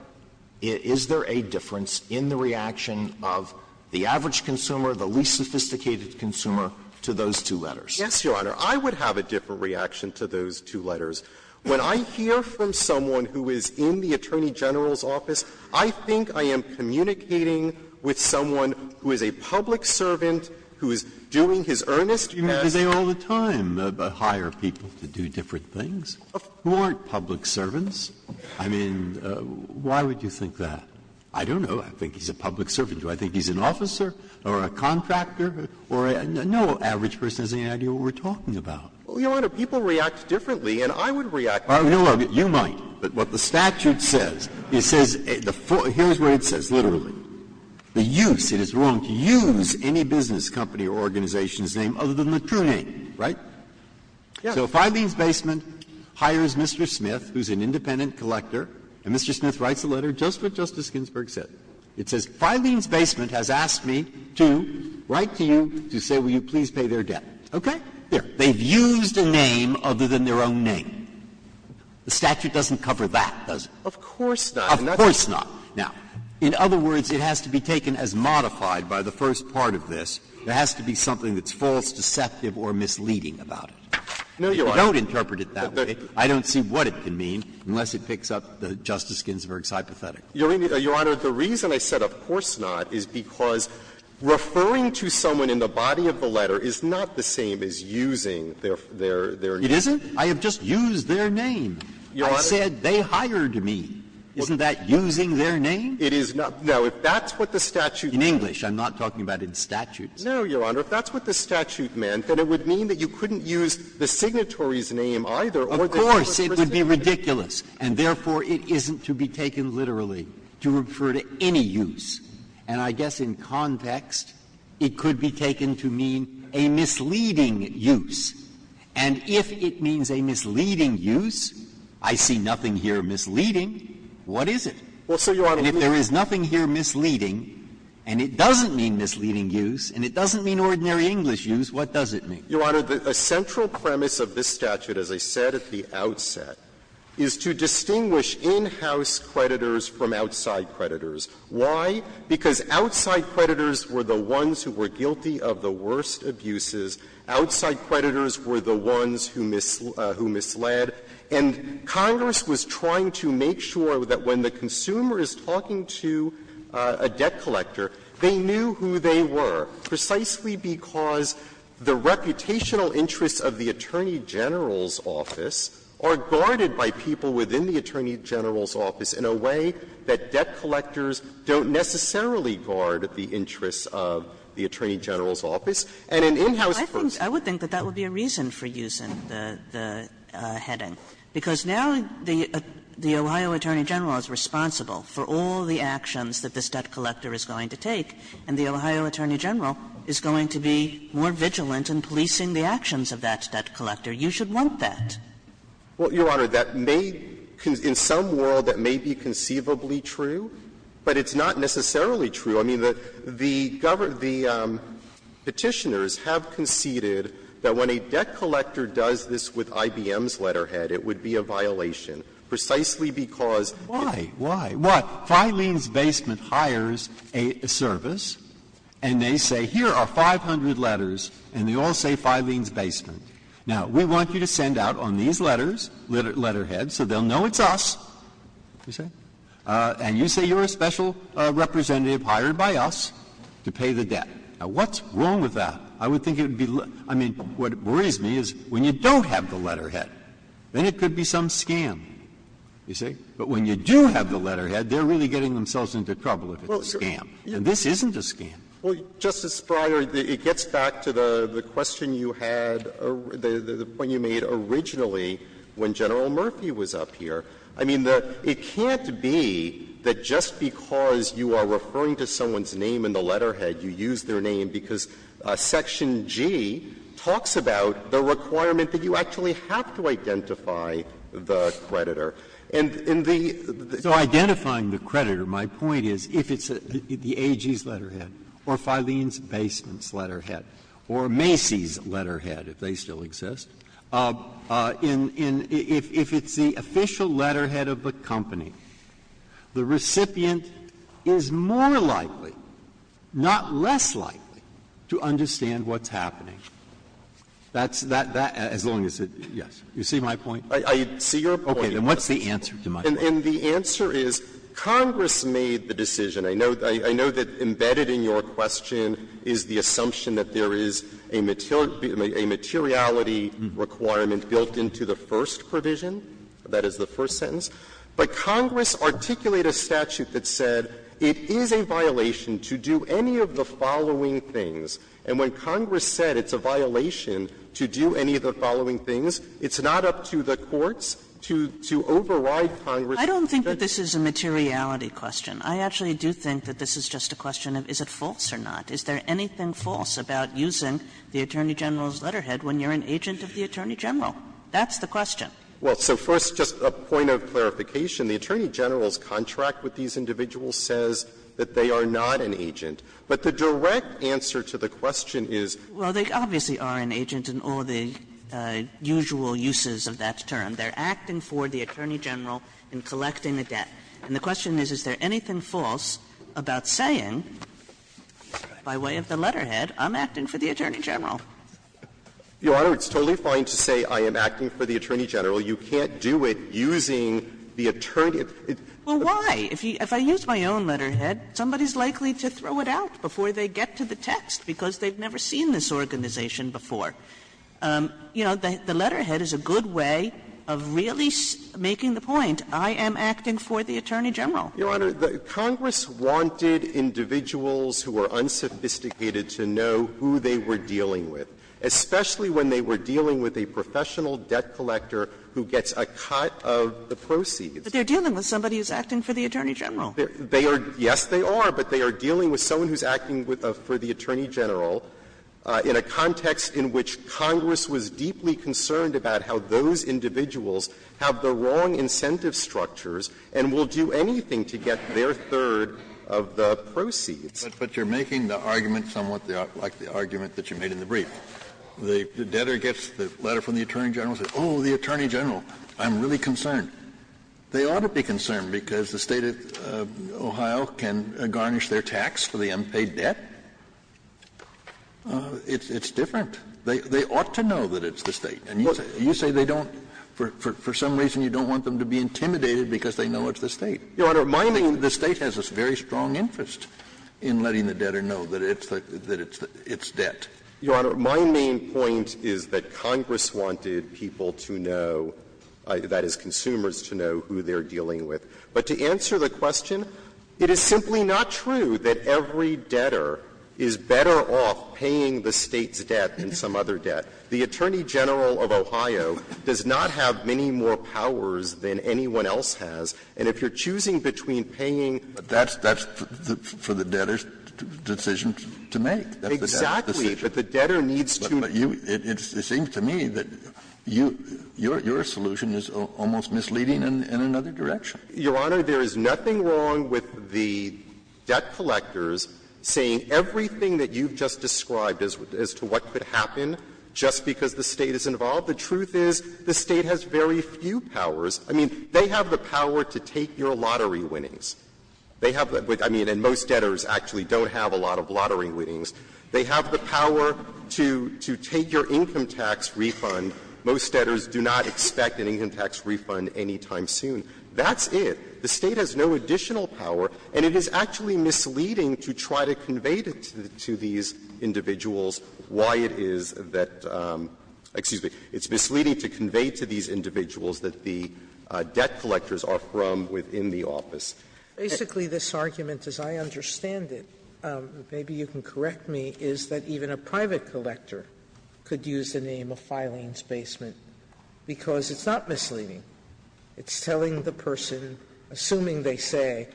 Is there a difference in the reaction of the average consumer, the least sophisticated consumer, to those two letters? Yes, Your Honor. I would have a different reaction to those two letters. When I hear from someone who is in the Attorney General's office, I think I am communicating with someone who is a public servant, who is doing his earnest best. Breyer, do they all the time hire people to do different things, who aren't public servants? I mean, why would you think that? I don't know. I think he's a public servant. Do I think he's an officer or a contractor or a no average person has any idea what we're talking about? Well, Your Honor, people react differently, and I would react differently. You might, but what the statute says, it says, here's what it says, literally. The use, it is wrong to use any business company or organization's name other than the true name, right? So Filene's Basement hires Mr. Smith, who is an independent collector, and Mr. Smith writes a letter just what Justice Ginsburg said. It says, Filene's Basement has asked me to write to you to say, will you please pay their debt. Okay? Here. They've used a name other than their own name. The statute doesn't cover that, does it? Of course not. Of course not. Now, in other words, it has to be taken as modified by the first part of this. There has to be something that's false, deceptive, or misleading about it. If you don't interpret it that way, I don't see what it can mean unless it picks up Justice Ginsburg's hypothetical. Your Honor, the reason I said of course not is because referring to someone in the body of the letter is not the same as using their name. It isn't? I have just used their name. I said they hired me. Isn't that using their name? It is not. Now, if that's what the statute meant. In English. I'm not talking about in statutes. No, Your Honor. If that's what the statute meant, then it would mean that you couldn't use the signatory's name either. Of course, it would be ridiculous. And therefore, it isn't to be taken literally, to refer to any use. And I guess in context, it could be taken to mean a misleading use. And if it means a misleading use, I see nothing here misleading, what is it? And if there is nothing here misleading, and it doesn't mean misleading use, and it doesn't mean ordinary English use, what does it mean? Your Honor, the central premise of this statute, as I said at the outset, is to distinguish in-house creditors from outside creditors. Why? Because outside creditors were the ones who were guilty of the worst abuses. Outside creditors were the ones who misled. And Congress was trying to make sure that when the consumer is talking to a debt collector, they knew who they were, precisely because the reputational interests of the Attorney General's office are guarded by people within the Attorney General's office in a way that debt collectors don't necessarily guard the interests of the Attorney General's office. And in in-house creditors. Kagan. I would think that that would be a reason for using the heading, because now the Ohio Attorney General is responsible for all the actions that this debt collector is going to take, and the Ohio Attorney General is going to be more vigilant in policing the actions of that debt collector. You should want that. Well, Your Honor, that may be in some world that may be conceivably true, but it's not necessarily true. I mean, the Petitioners have conceded that when a debt collector does this with IBM's letterhead, it would be a violation, precisely because it's a violation of the law. Why? Why? What? Filene's Basement hires a service, and they say, here are 500 letters, and they all say Filene's Basement. Now, we want you to send out on these letters, letterheads, so they'll know it's us, you see. And you say you're a special representative hired by us to pay the debt. Now, what's wrong with that? I would think it would be let – I mean, what worries me is when you don't have the letterhead, then it could be some scam, you see. But when you do have the letterhead, they're really getting themselves into trouble if it's a scam. And this isn't a scam. Well, Justice Breyer, it gets back to the question you had, the point you made originally when General Murphy was up here. I mean, it can't be that just because you are referring to someone's name in the letterhead, you use their name because Section G talks about the requirement that you actually have to identify the creditor. And in the – the – So identifying the creditor, my point is, if it's the AG's letterhead, or Filene's Basement's letterhead, or Macy's letterhead, if they still exist, if it's the official letterhead of the company, the recipient is more likely, not less likely, to understand what's happening. That's – that – as long as it – yes. You see my point? I see your point. Okay. Then what's the answer to my point? And the answer is Congress made the decision. I know that embedded in your question is the assumption that there is a materiality requirement built into the first provision. That is the first sentence. But Congress articulated a statute that said it is a violation to do any of the following things. And when Congress said it's a violation to do any of the following things, it's not up to the courts to override Congress. I don't think that this is a materiality question. I actually do think that this is just a question of is it false or not. Is there anything false about using the Attorney General's letterhead when you're an agent of the Attorney General? That's the question. Well, so first, just a point of clarification, the Attorney General's contract with these individuals says that they are not an agent. But the direct answer to the question is they're not. Well, they obviously are an agent in all the usual uses of that term. They're acting for the Attorney General in collecting the debt. And the question is, is there anything false about saying by way of the letterhead, I'm acting for the Attorney General? Your Honor, it's totally fine to say I am acting for the Attorney General. You can't do it using the Attorney General. Well, why? If I use my own letterhead, somebody's likely to throw it out before they get to the text because they've never seen this organization before. You know, the letterhead is a good way of really making the point, I am acting for the Attorney General. Your Honor, Congress wanted individuals who were unsophisticated to know who they were dealing with, especially when they were dealing with a professional debt collector who gets a cut of the proceeds. But they're dealing with somebody who's acting for the Attorney General. They are – yes, they are, but they are dealing with someone who's acting for the Attorney General in a context in which Congress was deeply concerned about how those individuals have the wrong incentive structures and will do anything to get their third of the proceeds. Kennedy, but you're making the argument somewhat like the argument that you made in the brief. The debtor gets the letter from the Attorney General and says, oh, the Attorney General, I'm really concerned. They ought to be concerned because the State of Ohio can garnish their tax for the unpaid debt. It's different. They ought to know that it's the State. And you say they don't – for some reason you don't want them to be intimidated because they know it's the State. Your Honor, mind you, the State has a very strong interest. In letting the debtor know that it's the – that it's debt. Your Honor, my main point is that Congress wanted people to know, that is consumers, to know who they're dealing with. But to answer the question, it is simply not true that every debtor is better off paying the State's debt than some other debt. The Attorney General of Ohio does not have many more powers than anyone else has. And if you're choosing between paying – Kennedy, that's for the debtor's decision to make. That's the debtor's decision. Exactly. But the debtor needs to – But you – it seems to me that you – your solution is almost misleading in another direction. Your Honor, there is nothing wrong with the debt collectors saying everything that you've just described as to what could happen just because the State is involved. The truth is the State has very few powers. I mean, they have the power to take your lottery winnings. They have the – I mean, and most debtors actually don't have a lot of lottery winnings. They have the power to take your income tax refund. Most debtors do not expect an income tax refund any time soon. That's it. The State has no additional power, and it is actually misleading to try to convey to these individuals why it is that – excuse me, it's misleading to convey to these individuals that the debt collectors are from within the office. Basically, this argument, as I understand it, maybe you can correct me, is that even a private collector could use the name of Filings Basement because it's not misleading. It's telling the person, assuming they say,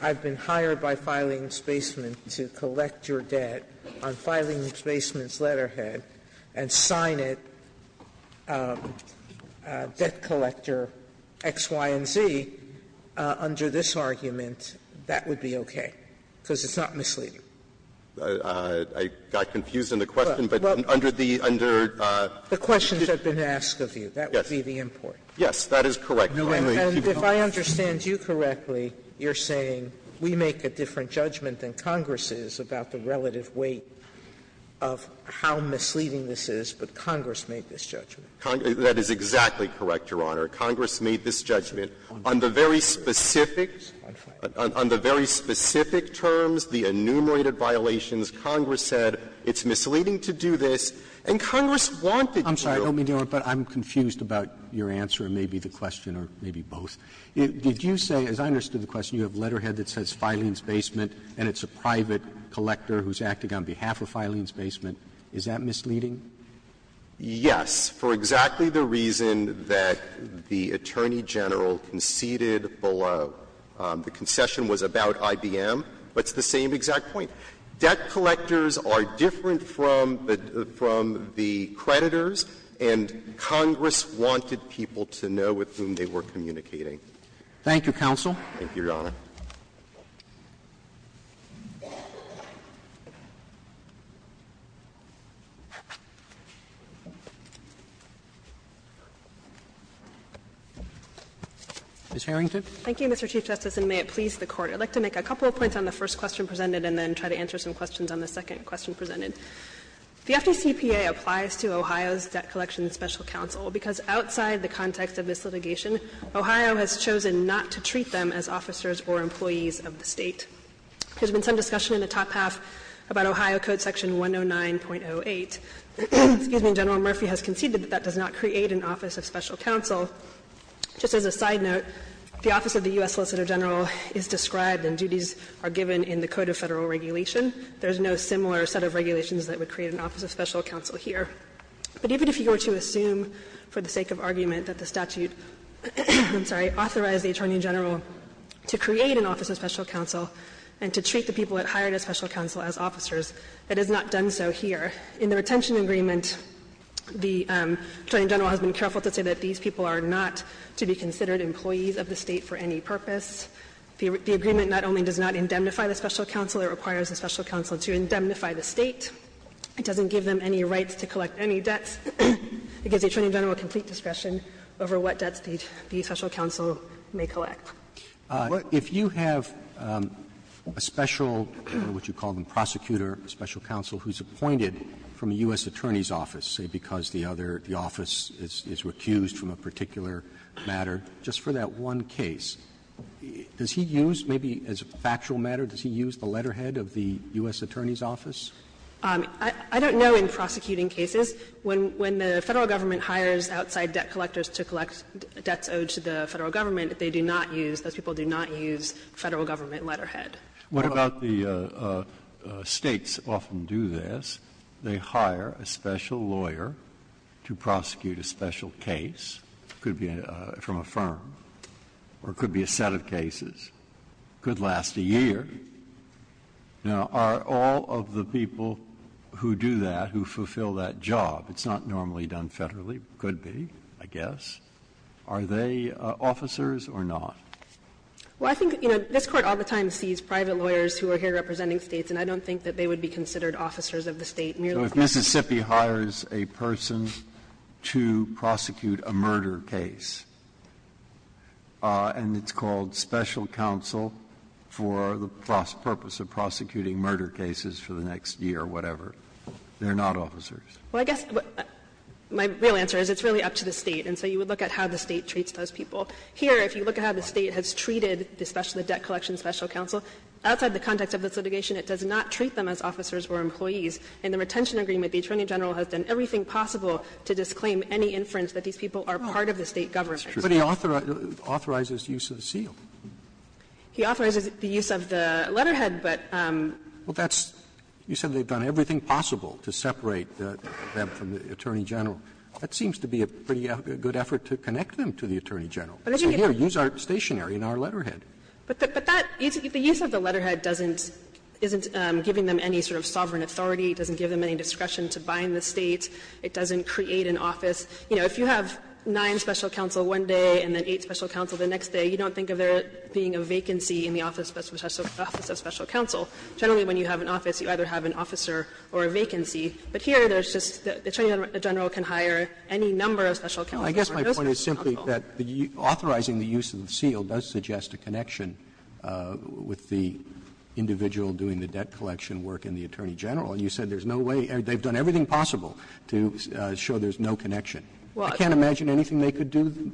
I've been hired by Filings Basement to collect your debt on Filings Basement's letterhead and sign it, debt collector X, Y, and Z, under this argument, that would be okay, because it's not misleading. I got confused in the question, but under the – under the question that's been asked of you, that would be the import. Yes, that is correct. And if I understand you correctly, you're saying we make a different judgment than Congress is about the relative weight of how misleading this is, but Congress made this judgment. That is exactly correct, Your Honor. Congress made this judgment. On the very specific terms, the enumerated violations, Congress said it's misleading to do this, and Congress wanted you to do it. I'm sorry. I don't mean to interrupt, but I'm confused about your answer, and maybe the question, or maybe both. Did you say, as I understood the question, you have a letterhead that says Filings Basement, and it's a private collector who's acting on behalf of Filings Basement. Is that misleading? Yes, for exactly the reason that the Attorney General conceded below. The concession was about IBM, but it's the same exact point. Debt collectors are different from the creditors, and Congress wanted people to know with whom they were communicating. Thank you, counsel. Thank you, Your Honor. Ms. Harrington. Thank you, Mr. Chief Justice, and may it please the Court. I'd like to make a couple of points on the first question presented and then try to answer some questions on the second question presented. The FDCPA applies to Ohio's Debt Collection Special Counsel because outside the context of this litigation, Ohio has chosen not to treat them as officers or employees of the State. There's been some discussion in the top half about Ohio Code section 109.08. Excuse me. General Murphy has conceded that that does not create an office of special counsel. Just as a side note, the office of the U.S. Solicitor General is described and duties are given in the Code of Federal Regulation. There's no similar set of regulations that would create an office of special counsel here. But even if you were to assume for the sake of argument that the statute, I'm sorry, authorized the Attorney General to create an office of special counsel and to treat the people that hired a special counsel as officers, it has not done so here. In the retention agreement, the Attorney General has been careful to say that these people are not to be considered employees of the State for any purpose. The agreement not only does not indemnify the special counsel, it requires the special counsel to indemnify the State. It doesn't give them any rights to collect any debts. It gives the Attorney General complete discretion over what debts the special counsel may collect. Roberts. Roberts. Roberts. If you have a special, what you call the prosecutor, special counsel who's appointed from a U.S. Attorney's office, say because the other, the office is recused from a particular matter, just for that one case, does he use, maybe as a factual matter, does he use the letterhead of the U.S. Attorney's office? I don't know in prosecuting cases. When the Federal Government hires outside debt collectors to collect debts owed to the Federal Government, they do not use, those people do not use Federal Government letterhead. What about the States often do this? They hire a special lawyer to prosecute a special case, could be from a firm, or could be a set of cases. Could last a year. Now, are all of the people who do that, who fulfill that job, it's not normally done Federally, could be, I guess, are they officers or not? Well, I think, you know, this Court all the time sees private lawyers who are here representing States, and I don't think that they would be considered officers of the State merely for that. So if Mississippi hires a person to prosecute a murder case, and it's called special counsel for the purpose of prosecuting murder cases for the next year, whatever, they're not officers. Well, I guess my real answer is it's really up to the State, and so you would look at how the State treats those people. Here, if you look at how the State has treated the debt collection special counsel, outside the context of this litigation, it does not treat them as officers or employees. In the retention agreement, the Attorney General has done everything possible to disclaim any inference that these people are part of the State government. But he authorizes use of the seal. He authorizes the use of the letterhead, but that's. Roberts, you said they've done everything possible to separate them from the Attorney General. That seems to be a pretty good effort to connect them to the Attorney General. So here, use our stationery and our letterhead. But that, the use of the letterhead doesn't, isn't giving them any sort of sovereign authority. It doesn't give them any discretion to bind the State. It doesn't create an office. You know, if you have nine special counsel one day and then eight special counsel the next day, you don't think of there being a vacancy in the office of special counsel. Generally, when you have an office, you either have an officer or a vacancy. But here, there's just the Attorney General can hire any number of special counsel. Roberts, I guess my point is simply that authorizing the use of the seal does suggest a connection with the individual doing the debt collection work in the Attorney General. You said there's no way, they've done everything possible to show there's no connection. I can't imagine anything they could do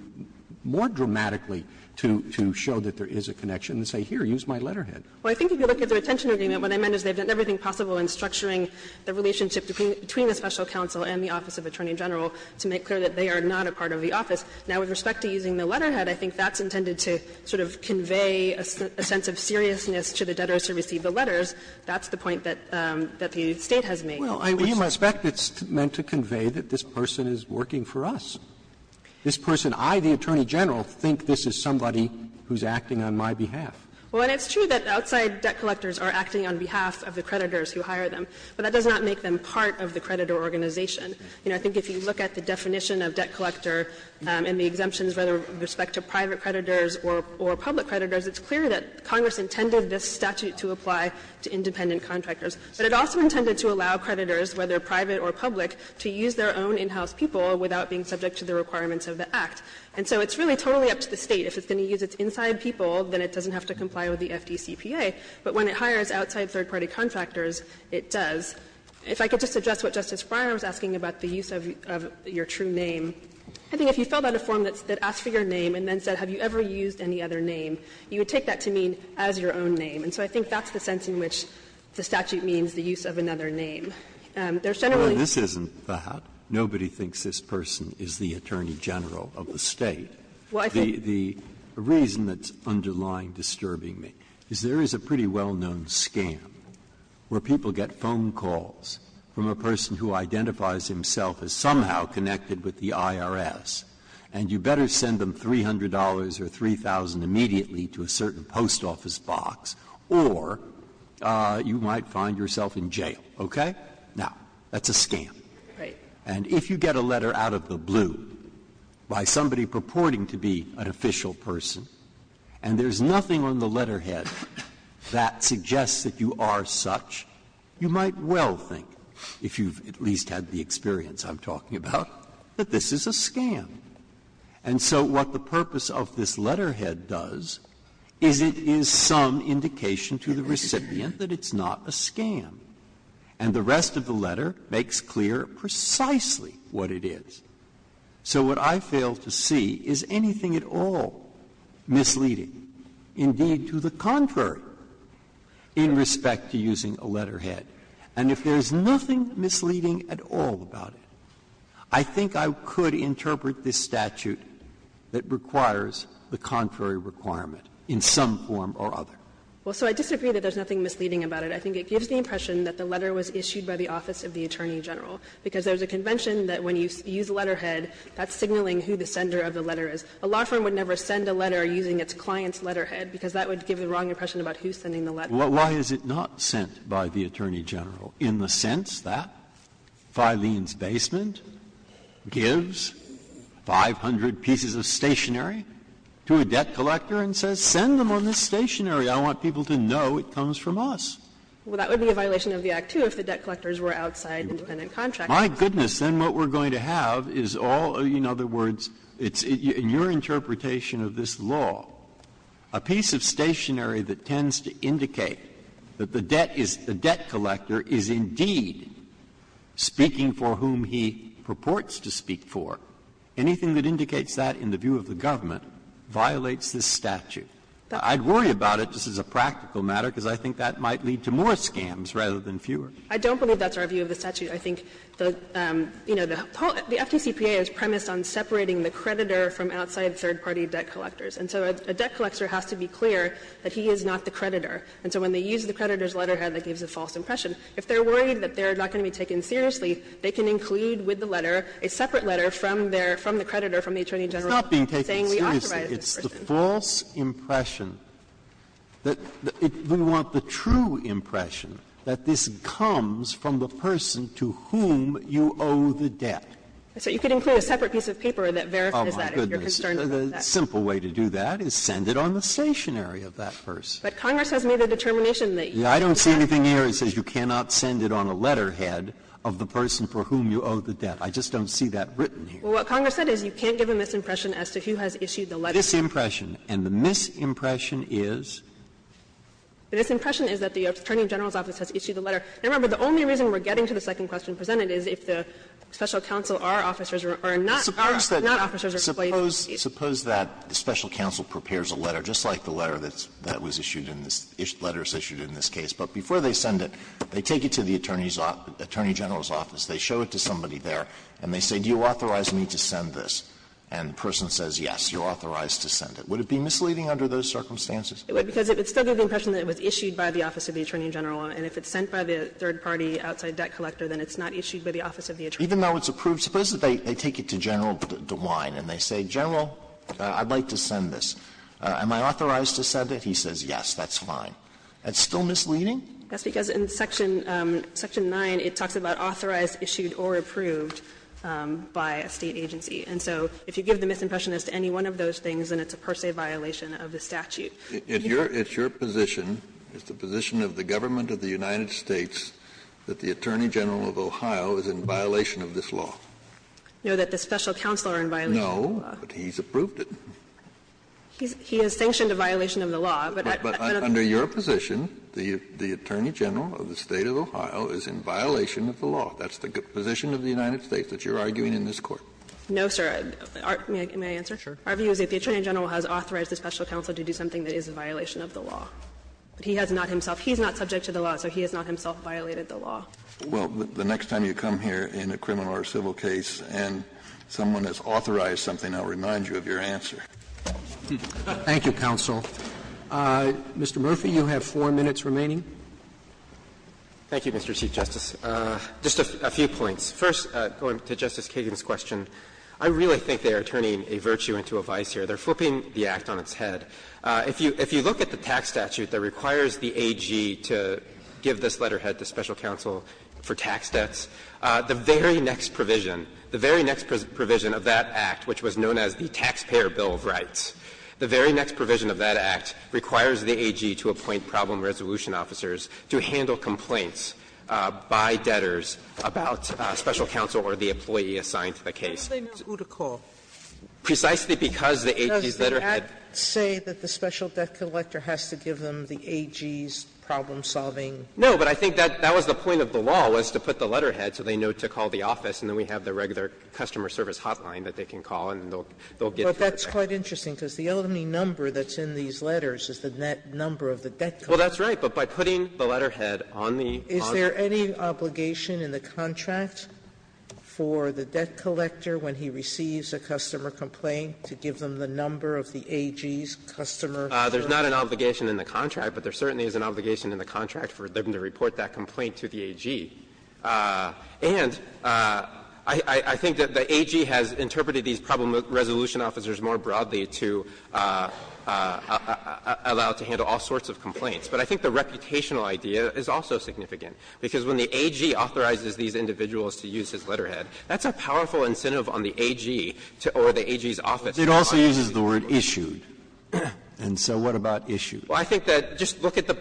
more dramatically to show that there is a connection and say, here, use my letterhead. Well, I think if you look at the retention agreement, what I meant is they've done everything possible in structuring the relationship between the special counsel and the office of Attorney General to make clear that they are not a part of the office. Now, with respect to using the letterhead, I think that's intended to sort of convey a sense of seriousness to the debtors who receive the letters. That's the point that the State has made. Roberts, I think that's the point that the State has made. Well, I suspect it's meant to convey that this person is working for us. This person, I, the Attorney General, think this is somebody who's acting on my behalf. Well, and it's true that outside debt collectors are acting on behalf of the creditors who hire them, but that does not make them part of the creditor organization. You know, I think if you look at the definition of debt collector and the exemptions with respect to private creditors or public creditors, it's clear that Congress intended this statute to apply to independent contractors. But it also intended to allow creditors, whether private or public, to use their own in-house people without being subject to the requirements of the Act. And so it's really totally up to the State. If it's going to use its inside people, then it doesn't have to comply with the FDCPA. But when it hires outside third-party contractors, it does. If I could just address what Justice Breyer was asking about the use of your true name. I think if you filled out a form that asked for your name and then said, have you ever used any other name, you would take that to mean as your own name. And so I think that's the sense in which the statute means the use of another name. There's generally a use of a different name. Breyer, this isn't that. Nobody thinks this person is the Attorney General of the State. The reason that's underlying disturbing me is there is a pretty well-known scam where people get phone calls from a person who identifies himself as somehow connected with the IRS, and you better send them $300 or $3,000 immediately to a certain post office box, or you might find yourself in jail. Okay? Now, that's a scam. And if you get a letter out of the blue by somebody purporting to be an official person, and there's nothing on the letterhead that suggests that you are such, you might well think, if you've at least had the experience I'm talking about, that this is a scam. And so what the purpose of this letterhead does is it is some indication to the recipient that it's not a scam. And the rest of the letter makes clear precisely what it is. So what I fail to see is anything at all misleading, indeed to the contrary, in respect to using a letterhead. And if there is nothing misleading at all about it, I think I could interpret this statute that requires the contrary requirement in some form or other. Well, so I disagree that there's nothing misleading about it. I think it gives the impression that the letter was issued by the office of the Attorney General, because there's a convention that when you use a letterhead, that's signaling who the sender of the letter is. A law firm would never send a letter using its client's letterhead, because that would give the wrong impression about who's sending the letter. Why is it not sent by the Attorney General in the sense that Filene's Basement gives 500 pieces of stationery to a debt collector and says, send them on this stationery. I want people to know it comes from us. Well, that would be a violation of the Act, too, if the debt collectors were outside independent contractors. My goodness, then what we're going to have is all, in other words, it's in your interpretation of this law, a piece of stationery that tends to indicate that the debt is the debt collector is indeed speaking for whom he purports to speak for. Anything that indicates that in the view of the government violates this statute. I'd worry about it just as a practical matter, because I think that might lead to more scams rather than fewer. I don't believe that's our view of the statute. I think the, you know, the FDCPA is premised on separating the creditor from outside third-party debt collectors, and so a debt collector has to be clear that he is not the creditor. And so when they use the creditor's letterhead that gives a false impression, if they're worried that they're not going to be taken seriously, they can include with the letter a separate letter from their, from the creditor, from the Attorney General, saying we authorized this person. It's not being taken seriously. It's the false impression that we want the true impression that this comes from the person to whom you owe the debt. So you could include a separate piece of paper that verifies that if you're concerned Breyer, the simple way to do that is send it on the stationery of that person. But Congress has made a determination that you can't give a misimpression. I don't see anything here that says you cannot send it on a letterhead of the person for whom you owe the debt. I just don't see that written here. Well, what Congress said is you can't give a misimpression as to who has issued the letter. Misimpression. And the misimpression is? The misimpression is that the Attorney General's office has issued the letter. And remember, the only reason we're getting to the second question presented is if the special counsel or officers are not, are not officers or employees. Suppose that the special counsel prepares a letter, just like the letter that was issued in this, letters issued in this case, but before they send it, they take it to the Attorney General's office, they show it to somebody there, and they say, do you authorize me to send this? And the person says, yes, you're authorized to send it. Would it be misleading under those circumstances? It would, because it would still give the impression that it was issued by the office of the Attorney General. And if it's sent by the third-party outside debt collector, then it's not issued by the office of the Attorney General. Even though it's approved? Suppose that they take it to General DeWine, and they say, General, I'd like to send this. Am I authorized to send it? He says, yes, that's fine. That's still misleading? That's because in section, section 9, it talks about authorized, issued, or approved by a State agency. And so if you give the misimpression as to any one of those things, then it's a per se violation of the statute. It's your position, it's the position of the government of the United States, that the Attorney General of Ohio is in violation of this law. No, that the special counsel are in violation of the law. No, but he's approved it. He has sanctioned a violation of the law, but I don't think that's the case. But under your position, the Attorney General of the State of Ohio is in violation of the law. That's the position of the United States that you're arguing in this Court. No, sir. May I answer? Sure. Our view is that the Attorney General has authorized the special counsel to do something that is a violation of the law. But he has not himself he's not subject to the law, so he has not himself violated the law. Well, the next time you come here in a criminal or civil case and someone has authorized something, I'll remind you of your answer. Thank you, counsel. Mr. Murphy, you have 4 minutes remaining. Thank you, Mr. Chief Justice. Just a few points. First, going to Justice Kagan's question, I really think they are turning a virtue into a vice here. They're flipping the act on its head. If you look at the tax statute that requires the AG to give this letterhead to special counsel for tax debts, the very next provision, the very next provision of that Act, which was known as the Taxpayer Bill of Rights, the very next provision of that Act requires the AG to appoint problem resolution officers to handle complaints by debtors about special counsel or the employee assigned to the case. Sotomayor, who does they know who to call? Precisely because the AG's letterhead. Does the Act say that the special debt collector has to give them the AG's problem solving letterhead? No, but I think that was the point of the law, was to put the letterhead so they know to call the office, and then we have the regular customer service hotline that they can call, and they'll get it right. But that's quite interesting, because the only number that's in these letters is the number of the debt collector. Well, that's right. But by putting the letterhead on the contract. Is there any obligation in the contract for the debt collector when he receives a customer complaint to give them the number of the AG's customer? There's not an obligation in the contract, but there certainly is an obligation in the contract for them to report that complaint to the AG. And I think that the AG has interpreted these problem resolution officers more broadly to allow it to handle all sorts of complaints. But I think the reputational idea is also significant, because when the AG authorizes these individuals to use his letterhead, that's a powerful incentive on the AG to or the AG's office. It also uses the word issued, and so what about issued? Well, I think that just look at the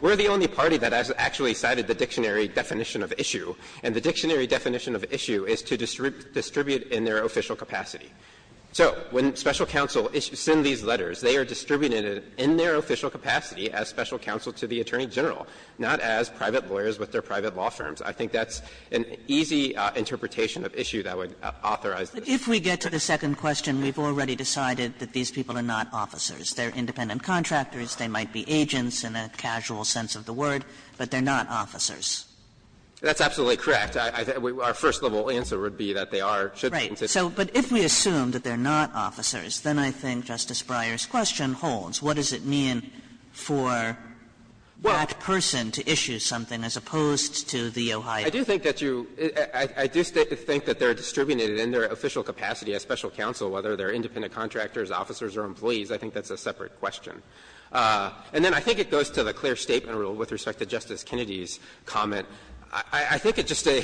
we're the only party that has actually cited the dictionary definition of issue, and the dictionary definition of issue is to distribute in their official capacity. So when special counsel send these letters, they are distributed in their official capacity as special counsel to the attorney general, not as private lawyers with their private law firms. I think that's an easy interpretation of issue that would authorize this. Kagan. Kagan. I think to the second question, we've already decided that these people are not officers. They're independent contractors. They might be agents in a casual sense of the word. But they're not officers. That's absolutely correct. Our first level answer would be that they are, should be. Right. But if we assume that they're not officers, then I think Justice Breyer's question holds. What does it mean for that person to issue something as opposed to the Ohio? I do think that you – I do think that they're distributed in their official capacity as special counsel, whether they're independent contractors, officers, or employees. I think that's a separate question. And then I think it goes to the clear statement rule with respect to Justice Kennedy's comment. I think it's just a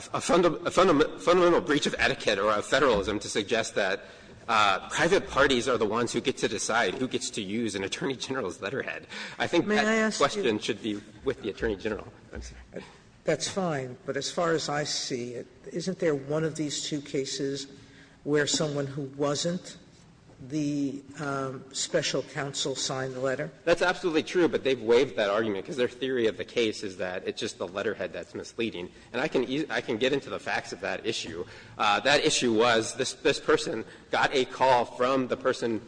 fundamental breach of etiquette or of Federalism to suggest that private parties are the ones who get to decide who gets to use an attorney general's letterhead. I think that question should be with the attorney general. Sotomayor, that's fine, but as far as I see it, isn't there one of these two cases where someone who wasn't the special counsel signed the letter? That's absolutely true, but they've waived that argument because their theory of the case is that it's just the letterhead that's misleading. And I can get into the facts of that issue. That issue was this person got a call from the person,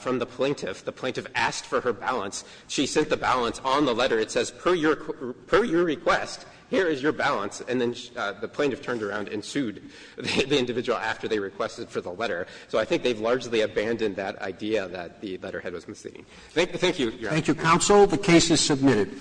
from the plaintiff. The plaintiff asked for her balance. She sent the balance on the letter. It says, per your request, here is your balance. And then the plaintiff turned around and sued the individual after they requested for the letter. So I think they've largely abandoned that idea that the letterhead was misleading. Thank you, Your Honor. Roberts. Thank you, counsel. The case is submitted.